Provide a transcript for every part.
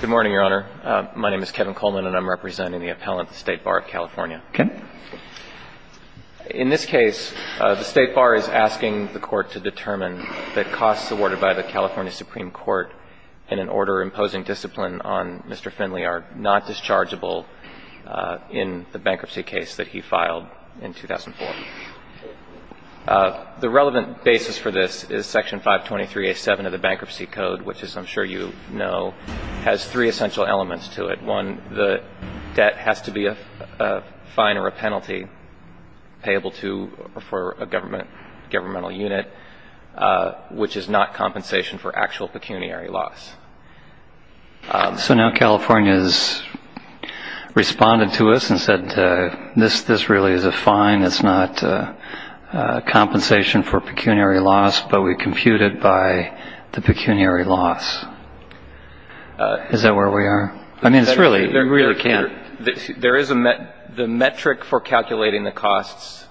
Good morning, Your Honor. My name is Kevin Coleman, and I'm representing the appellant at the State Bar of California. In this case, the State Bar is asking the Court to determine that costs awarded by the California Supreme Court in an order imposing discipline on Mr. Findley are not dischargeable in the bankruptcy case that he filed in 2004. The relevant basis for this is Section 523A7 of the Bankruptcy Code, which, as I'm sure you know, has three essential elements to it. One, the debt has to be a fine or a penalty payable to or for a governmental unit, which is not compensation for actual pecuniary loss. So now California has responded to us and said this really is a fine. It's not compensation for pecuniary loss, but we compute it by the pecuniary loss. Is that where we are? I mean, it's really – you really can't – There is a – the metric for calculating the costs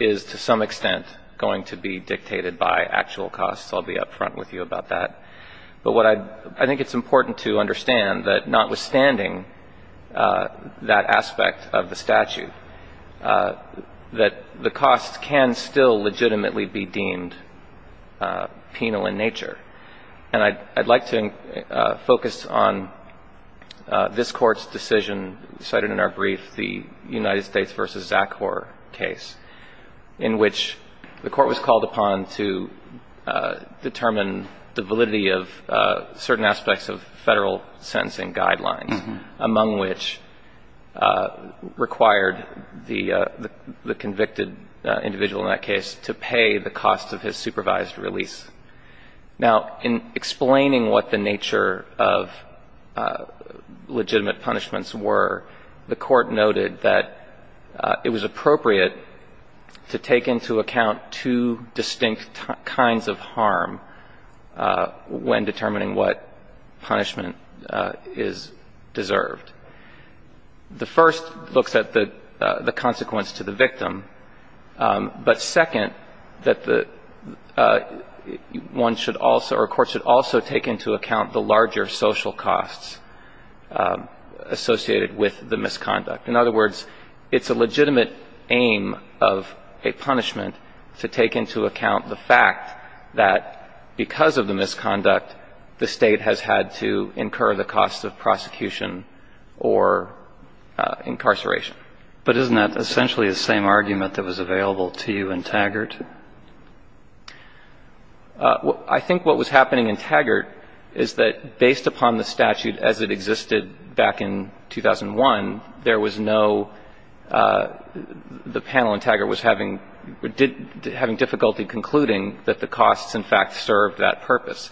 is, to some extent, going to be dictated by actual costs. I'll be up front with you about that. But what I – I think it's important to understand that notwithstanding that aspect of the statute, that the costs can still legitimately be deemed penal in nature. And I'd like to focus on this Court's decision cited in our brief, the United States v. Zachor case, in which the Court was called upon to determine the validity of certain aspects of Federal sentencing guidelines, among which required the convicted individual in that case to pay the cost of his supervised release. Now, in explaining what the nature of legitimate punishments were, the Court noted that it was appropriate to take into account two distinct kinds of harm when determining what punishment is deserved. The first looks at the consequence to the victim. But second, that the – one should also – or courts should also take into account the larger social costs associated with the misconduct. In other words, it's a legitimate aim of a punishment to take into account the fact that because of the misconduct, the State has had to incur the cost of prosecution or incarceration. But isn't that essentially the same argument that was available to you in Taggart? I think what was happening in Taggart is that based upon the statute as it existed back in 2001, there was no – the panel in Taggart was having difficulty concluding that the costs, in fact, served that purpose.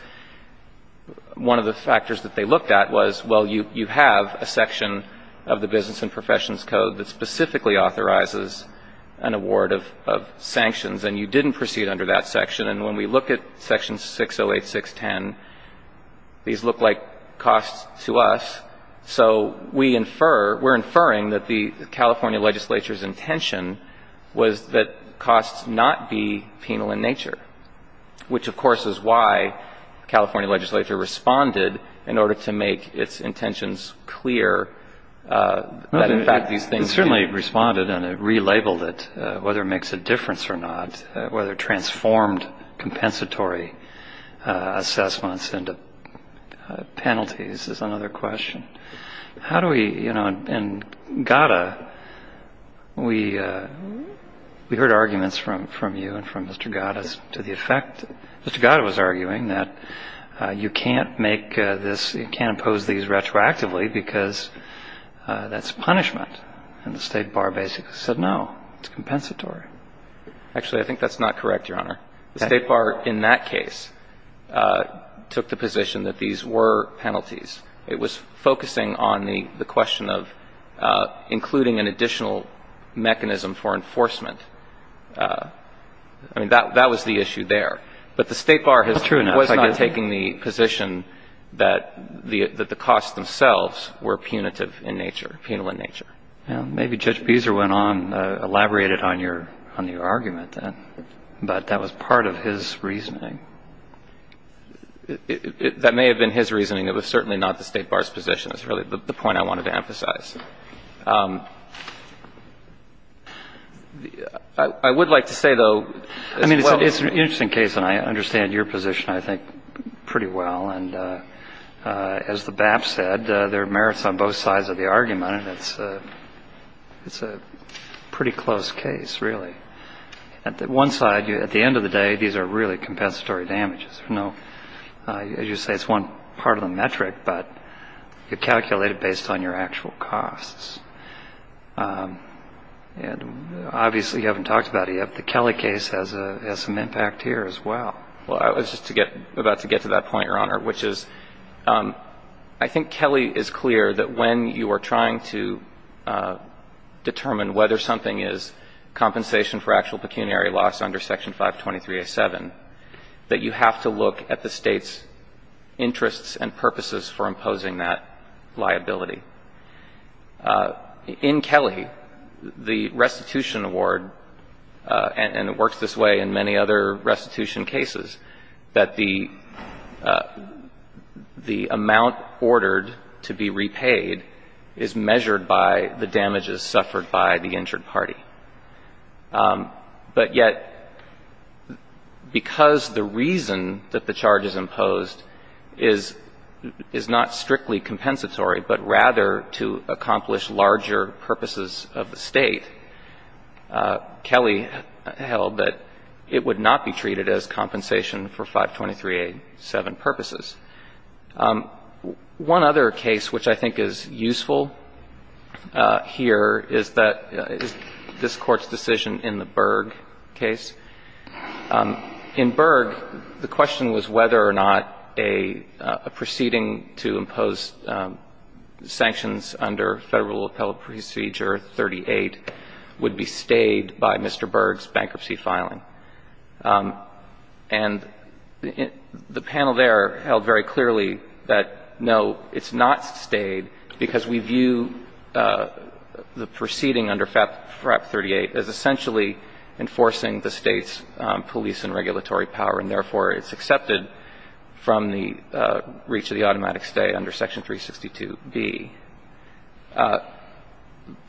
One of the factors that they looked at was, well, you have a section of the Business and Professions Code that specifically authorizes an award of sanctions, and you didn't proceed under that section. And when we look at Section 608, 610, these look like costs to us. So we infer – we're inferring that the California legislature's intention was that costs not be penal in nature, which, of course, is why the California legislature responded in order to make its intentions clear that, in fact, these things – It certainly responded, and it relabeled it, whether it makes a difference or not, whether it transformed compensatory assessments into penalties is another question. How do we – you know, in Gada, we heard arguments from you and from Mr. Gada as to the effect – Mr. Gada was arguing that you can't make this – you can't impose these retroactively because that's punishment. And the State Bar basically said, no, it's compensatory. Actually, I think that's not correct, Your Honor. The State Bar in that case took the position that these were penalties. It was focusing on the question of including an additional mechanism for enforcement. I mean, that was the issue there. But the State Bar was not taking the position that the costs themselves were punitive in nature, penal in nature. Well, maybe Judge Beezer went on, elaborated on your argument, but that was part of his reasoning. That may have been his reasoning. It was certainly not the State Bar's position. That's really the point I wanted to emphasize. I would like to say, though – I mean, it's an interesting case, and I understand your position, I think, pretty well. And as the BAP said, there are merits on both sides of the argument, and it's a pretty close case, really. One side, at the end of the day, these are really compensatory damages. As you say, it's one part of the metric, but you calculate it based on your actual costs. And obviously, you haven't talked about it yet, but the Kelly case has some impact here as well. Well, I was just about to get to that point, Your Honor, which is I think Kelly is clear that when you are trying to determine whether something is compensation for actual pecuniary loss under Section 523A7, that you have to look at the State's interests and purposes for imposing that liability. In Kelly, the restitution award, and it works this way in many other restitution cases, that the amount ordered to be repaid is measured by the damages suffered by the injured party. But yet, because the reason that the charge is imposed is not strictly compensatory, but rather to accomplish larger purposes of the State, Kelly held that it would not be treated as compensation for 523A7 purposes. One other case which I think is useful here is that this Court's decision in the Berg case. In Berg, the question was whether or not a proceeding to impose sanctions under Federal Appellate Procedure 38 would be stayed by Mr. Berg's bankruptcy filing. And the panel there held very clearly that, no, it's not stayed because we view the proceeding under FRAP 38 as essentially enforcing the State's police and regulatory power, and therefore it's accepted from the reach of the automatic stay under Section 362B. The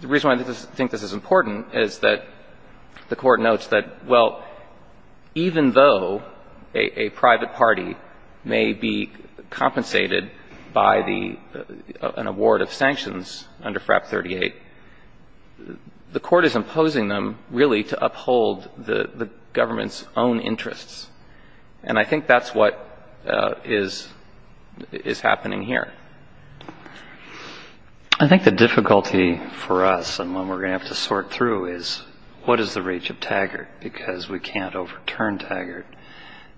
reason why I think this is important is that the Court notes that, well, even though a private party may be compensated by the an award of sanctions under FRAP 38, the Court is imposing them really to uphold the government's own interests. And I think that's what is happening here. I think the difficulty for us, and one we're going to have to sort through, is what is the reach of Taggart? Because we can't overturn Taggart.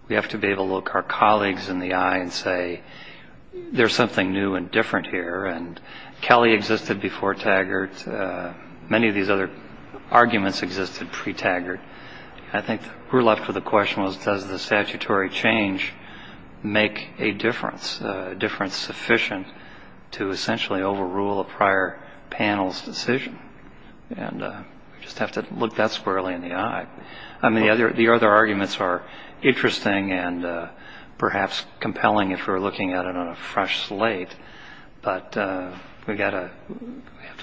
We have to be able to look our colleagues in the eye and say, there's something new and different here. And Kelly existed before Taggart. Many of these other arguments existed pre-Taggart. I think we're left with the question, does the statutory change make a difference, a difference sufficient to essentially overrule a prior panel's decision? And we just have to look that squarely in the eye. I mean, the other arguments are interesting and perhaps compelling if we're looking at it on a fresh slate, but we've got to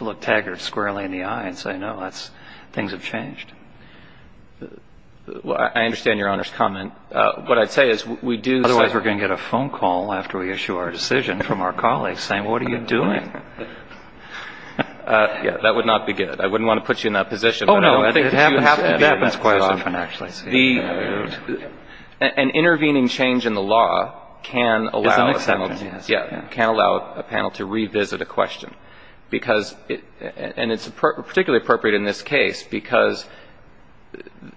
look Taggart squarely in the eye and say, no, things have changed. Well, I understand Your Honor's comment. Otherwise we're going to get a phone call after we issue our decision from our colleagues saying, what are you doing? That would not be good. I wouldn't want to put you in that position. Oh, no. It happens quite often, actually. An intervening change in the law can allow a panel to revisit a question. And it's particularly appropriate in this case because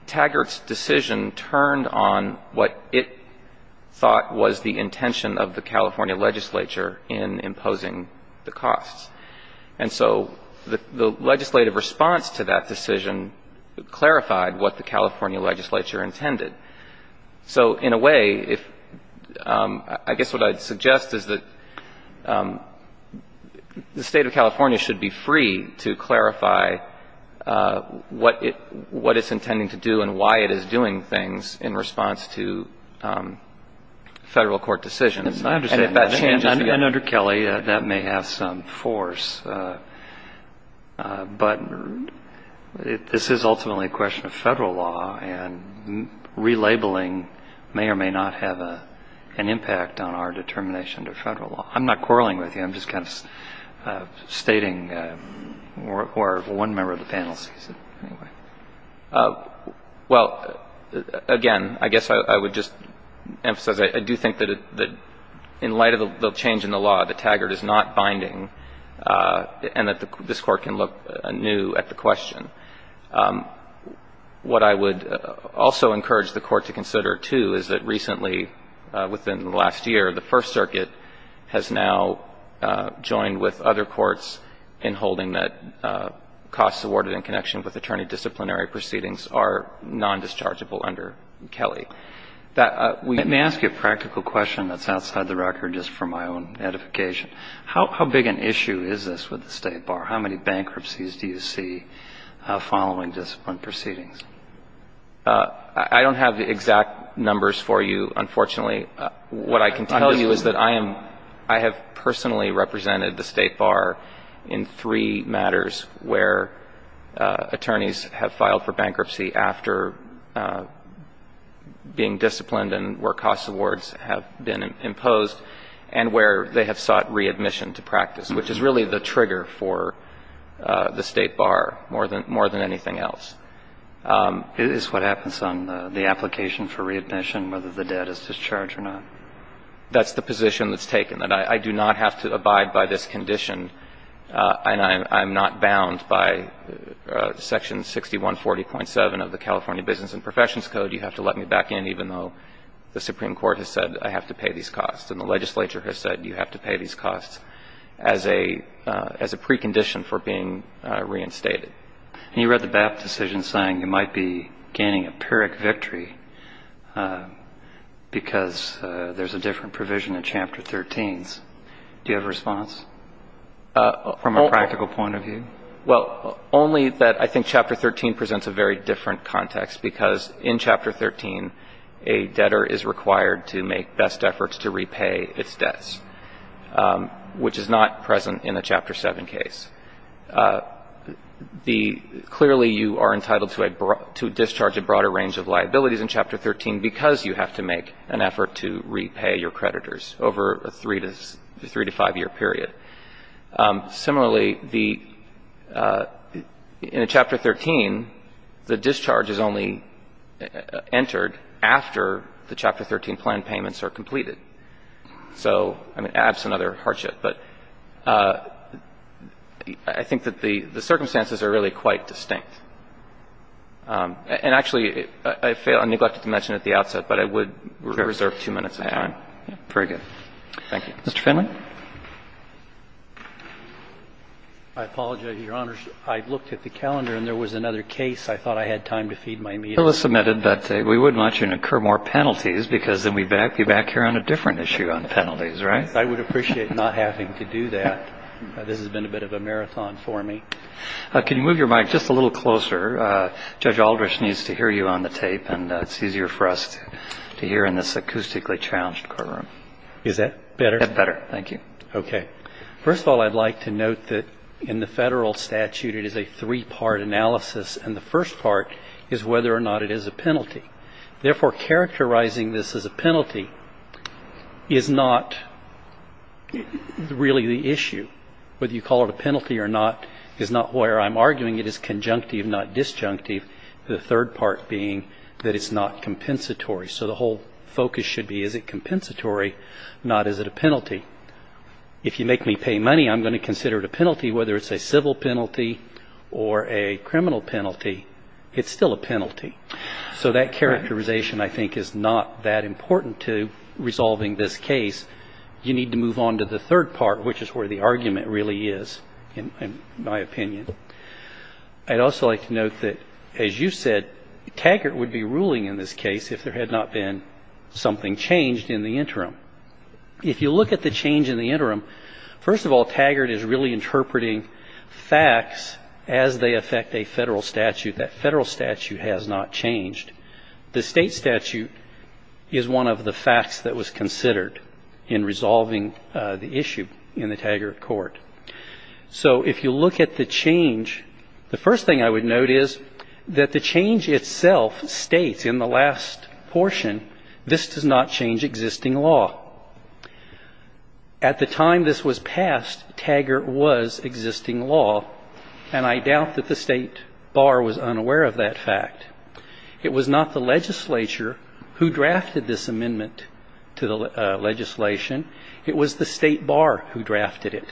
Taggart's decision turned on what it thought was the intention of the California legislature in imposing the costs. And so the legislative response to that decision clarified what the California legislature intended. So in a way, I guess what I'd suggest is that the State of California should be free to clarify what it's intending to do and why it is doing things in response to federal court decisions. And if that changes again. I understand. And under Kelly, that may have some force. But this is ultimately a question of federal law. And relabeling may or may not have an impact on our determination to federal law. I'm not quarreling with you. I'm just kind of stating. Or one member of the panel sees it. Well, again, I guess I would just emphasize I do think that in light of the change in the law, that Taggart is not binding and that this Court can look anew at the question. What I would also encourage the Court to consider, too, is that recently, within the last year, the First Circuit has now joined with other courts in holding that costs awarded in connection with attorney disciplinary proceedings are nondischargeable under Kelly. Let me ask you a practical question that's outside the record just for my own edification. How big an issue is this with the State Bar? How many bankruptcies do you see following discipline proceedings? I don't have the exact numbers for you, unfortunately. What I can tell you is that I am ‑‑ I have personally represented the State Bar in three matters where attorneys have filed for bankruptcy after being disciplined and where costs awards have been imposed and where they have sought readmission to practice, which is really the trigger for the State Bar more than anything else. Is what happens on the application for readmission, whether the debt is discharged or not? That's the position that's taken. And I do not have to abide by this condition, and I'm not bound by Section 6140.7 of the California Business and Professions Code. You have to let me back in even though the Supreme Court has said I have to pay these costs and the legislature has said you have to pay these costs as a precondition for being reinstated. And you read the BAP decision saying you might be gaining a PYRIC victory because there's a different provision in Chapter 13. Do you have a response from a practical point of view? Well, only that I think Chapter 13 presents a very different context, because in Chapter 13, a debtor is required to make best efforts to repay its debts, which is not present in the Chapter 7 case. Clearly, you are entitled to discharge a broader range of liabilities in Chapter 13 because you have to make an effort to repay your debts over a 3- to 5-year period. Similarly, the – in Chapter 13, the discharge is only entered after the Chapter 13 plan payments are completed. So, I mean, that's another hardship. But I think that the circumstances are really quite distinct. And actually, I failed – I neglected to mention at the outset, but I would reserve 2 minutes of time. Very good. Thank you. Mr. Finley? I apologize, Your Honors. I looked at the calendar, and there was another case. I thought I had time to feed my meal. It was submitted, but we wouldn't want you to incur more penalties because then we'd be back here on a different issue on penalties, right? I would appreciate not having to do that. This has been a bit of a marathon for me. Can you move your mic just a little closer? Judge Aldrich needs to hear you on the tape, and it's easier for us to hear in this acoustically challenged courtroom. Is that better? That's better. Thank you. Okay. First of all, I'd like to note that in the federal statute it is a three-part analysis, and the first part is whether or not it is a penalty. Therefore, characterizing this as a penalty is not really the issue. Whether you call it a penalty or not is not where I'm arguing. It is conjunctive, not disjunctive. The third part being that it's not compensatory. So the whole focus should be is it compensatory, not is it a penalty. If you make me pay money, I'm going to consider it a penalty, whether it's a civil penalty or a criminal penalty. It's still a penalty. So that characterization, I think, is not that important to resolving this case. You need to move on to the third part, which is where the argument really is, in my opinion. I'd also like to note that, as you said, Taggart would be ruling in this case if there had not been something changed in the interim. If you look at the change in the interim, first of all, Taggart is really interpreting facts as they affect a federal statute. That federal statute has not changed. The state statute is one of the facts that was considered in resolving the issue in the Taggart court. So if you look at the change, the first thing I would note is that the change itself states in the last portion, this does not change existing law. At the time this was passed, Taggart was existing law, and I doubt that the state bar was unaware of that fact. It was not the legislature who drafted this amendment to the legislation. It was the state bar who drafted it.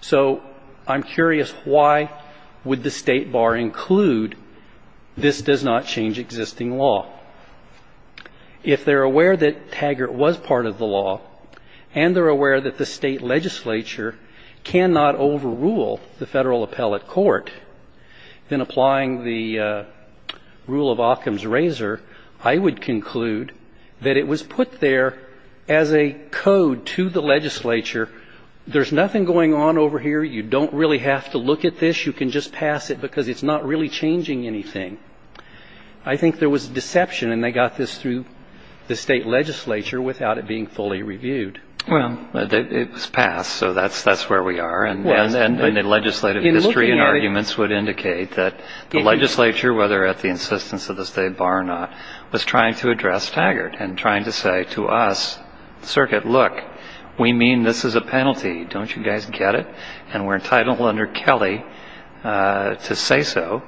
So I'm curious, why would the state bar include this does not change existing law? If they're aware that Taggart was part of the law and they're aware that the state legislature cannot overrule the federal appellate court, then applying the rule of Occam's razor, I would conclude that it was put there as a code to the legislature. There's nothing going on over here. You don't really have to look at this. You can just pass it because it's not really changing anything. I think there was deception, and they got this through the state legislature without it being fully reviewed. Well, it was passed, so that's where we are. And the legislative history and arguments would indicate that the legislature, whether at the insistence of the state bar or not, was trying to address Taggart and trying to say to us, Circuit, look, we mean this as a penalty. Don't you guys get it? And we're entitled under Kelly to say so.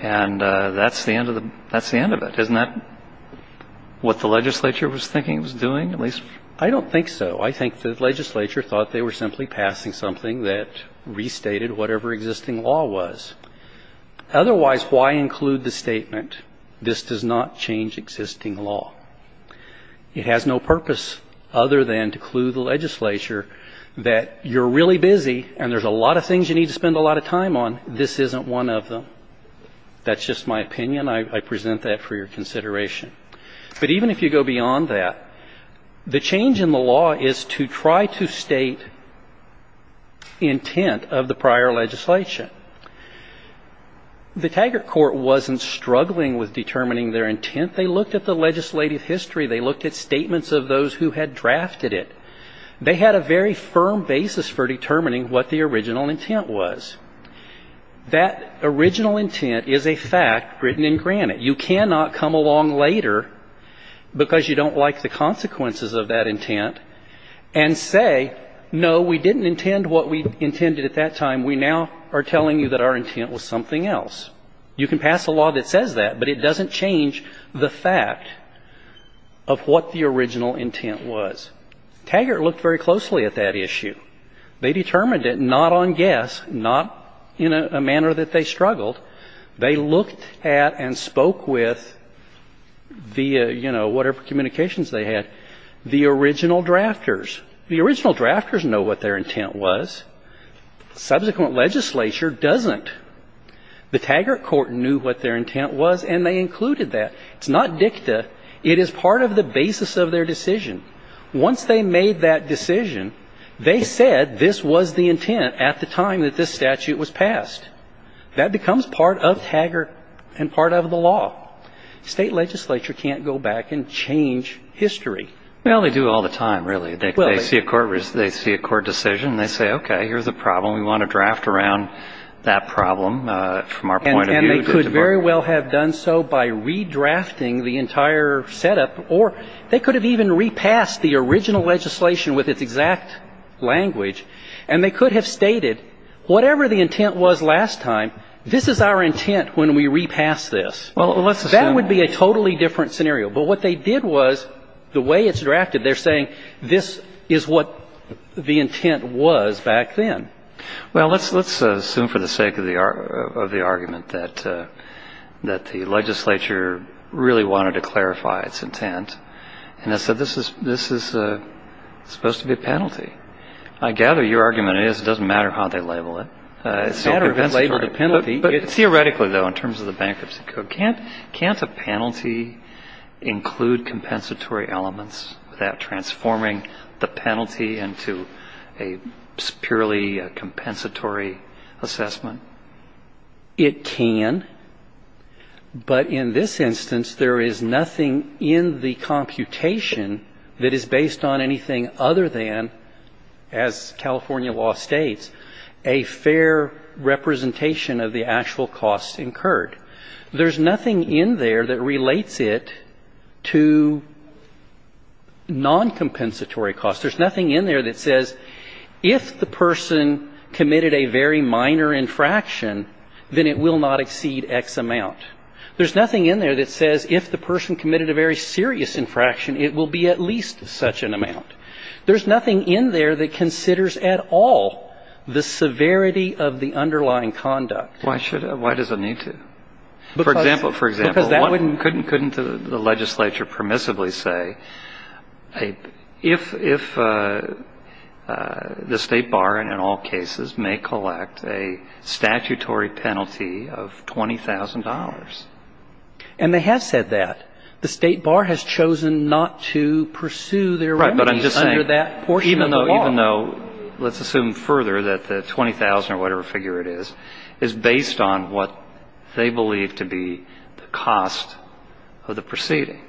And that's the end of it. Isn't that what the legislature was thinking it was doing, at least? I don't think so. I think the legislature thought they were simply passing something that restated whatever existing law was. Otherwise, why include the statement, this does not change existing law? It has no purpose other than to clue the legislature that you're really busy and there's a lot of things you need to spend a lot of time on, this isn't one of them. That's just my opinion. I present that for your consideration. But even if you go beyond that, the change in the law is to try to state intent of the prior legislation. The Taggart court wasn't struggling with determining their intent. They looked at the legislative history. They looked at statements of those who had drafted it. They had a very firm basis for determining what the original intent was. That original intent is a fact written in granite. You cannot come along later because you don't like the consequences of that intent and say, no, we didn't intend what we intended at that time. We now are telling you that our intent was something else. You can pass a law that says that, but it doesn't change the fact of what the original intent was. Taggart looked very closely at that issue. They determined it not on guess, not in a manner that they struggled. They looked at and spoke with the, you know, whatever communications they had, the original drafters. The original drafters know what their intent was. Subsequent legislature doesn't. The Taggart court knew what their intent was, and they included that. It's not dicta. It is part of the basis of their decision. Once they made that decision, they said this was the intent at the time that this statute was passed. That becomes part of Taggart and part of the law. State legislature can't go back and change history. Well, they do all the time, really. They see a court decision, and they say, okay, here's the problem. We want to draft around that problem from our point of view. And they could very well have done so by redrafting the entire setup, or they could have even repassed the original legislation with its exact language, and they could have stated whatever the intent was last time, this is our intent when we repass this. Well, let's assume. That would be a totally different scenario. But what they did was the way it's drafted, they're saying this is what the intent was back then. Well, let's assume for the sake of the argument that the legislature really wanted to clarify its intent, and they said this is supposed to be a penalty. I gather your argument is it doesn't matter how they label it. It's a penalty. But theoretically, though, in terms of the Bankruptcy Code, can't a penalty include compensatory elements without transforming the penalty into a purely compensatory assessment? It can. But in this instance, there is nothing in the computation that is based on anything other than, as California law states, a fair representation of the actual costs incurred. There's nothing in there that relates it to noncompensatory costs. There's nothing in there that says if the person committed a very minor infraction, then it will not exceed X amount. There's nothing in there that says if the person committed a very serious infraction, it will be at least such an amount. There's nothing in there that considers at all the severity of the underlying conduct. Why should it? Why does it need to? For example, couldn't the legislature permissibly say if the State Bar, in all cases, may collect a statutory penalty of $20,000? And they have said that. The State Bar has chosen not to pursue their remedies under that portion of the law. Let's assume further that the $20,000 or whatever figure it is, is based on what they believe to be the cost of the proceeding.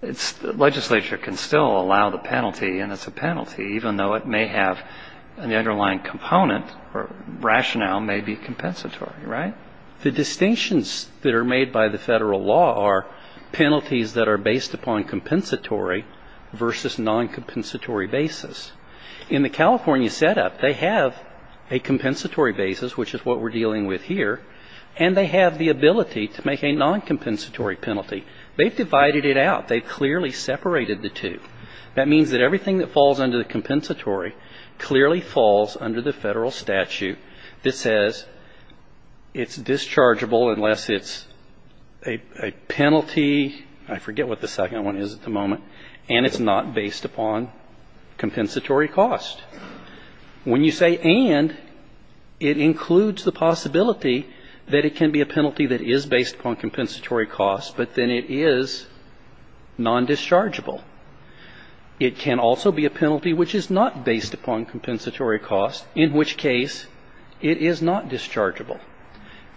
The legislature can still allow the penalty, and it's a penalty, even though it may have an underlying component or rationale may be compensatory, right? The distinctions that are made by the federal law are penalties that are based upon compensatory versus noncompensatory basis. In the California setup, they have a compensatory basis, which is what we're dealing with here, and they have the ability to make a noncompensatory penalty. They've divided it out. They've clearly separated the two. That means that everything that falls under the compensatory clearly falls under the federal statute that says it's dischargeable unless it's a penalty. I forget what the second one is at the moment. And it's not based upon compensatory cost. When you say and, it includes the possibility that it can be a penalty that is based upon compensatory cost, but then it is nondischargeable. It can also be a penalty which is not based upon compensatory cost, in which case it is not dischargeable.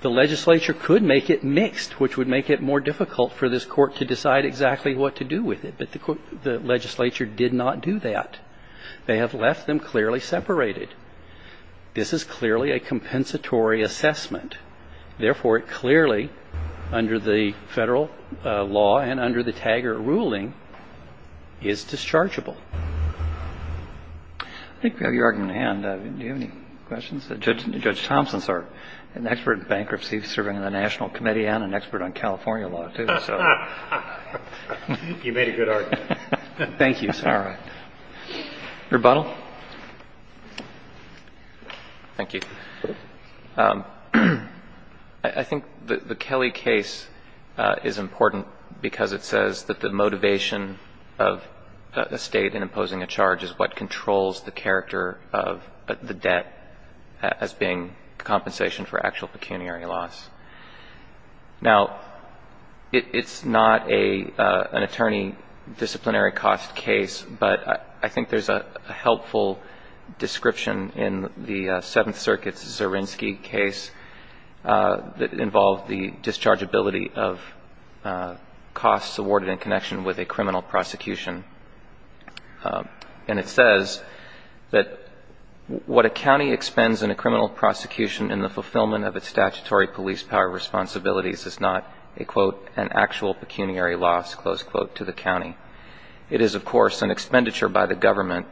The legislature could make it mixed, which would make it more difficult for this court to decide exactly what to do with it. But the legislature did not do that. They have left them clearly separated. This is clearly a compensatory assessment. Therefore, it clearly, under the federal law and under the TAGR ruling, is dischargeable. I think we have your argument at hand. Do you have any questions? Judge Thompson is an expert in bankruptcy serving on the National Committee and an expert on California law, too. You made a good argument. Thank you, sir. All right. Rebuttal? Thank you. I think the Kelly case is important because it says that the motivation of a State in imposing a charge is what controls the character of the debt as being compensation for actual pecuniary loss. Now, it's not an attorney disciplinary cost case, but I think there's a helpful description in the Seventh Circuit's Zerinsky case that involved the dischargeability of costs awarded in connection with a criminal prosecution. And it says that what a county expends in a criminal prosecution in the fulfillment of its statutory police power responsibilities is not a, quote, an actual pecuniary loss, close quote, to the county. It is, of course, an expenditure by the government,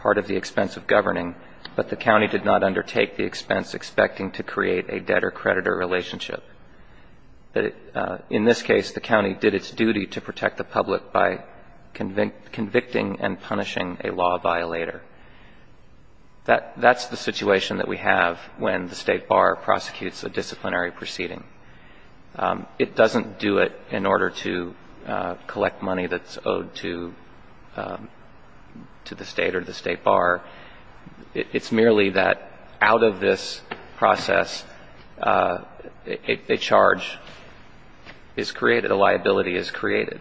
part of the expense of governing, but the county did not undertake the expense expecting to create a debtor-creditor relationship. In this case, the county did its duty to protect the public by convicting and punishing a law violator. That's the situation that we have when the State Bar prosecutes a disciplinary proceeding. It doesn't do it in order to collect money that's owed to the State or the State Bar. It's merely that out of this process, a charge is created, a liability is created.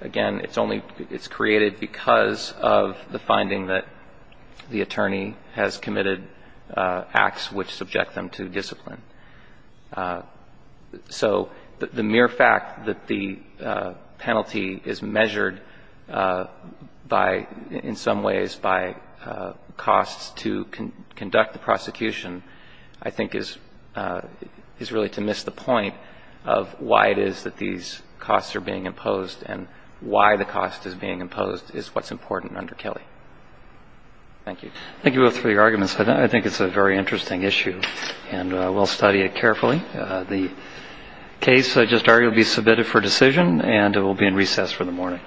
Again, it's only created because of the finding that the attorney has committed acts which subject them to discipline. So the mere fact that the penalty is measured by, in some ways, by costs to conduct the prosecution, I think is really to miss the point of why it is that these costs are being imposed and why the cost is being imposed is what's important under Kelly. Thank you. Thank you both for your arguments. I think it's a very interesting issue, and we'll study it carefully. The case, I just argued, will be submitted for decision, and it will be in recess for the morning.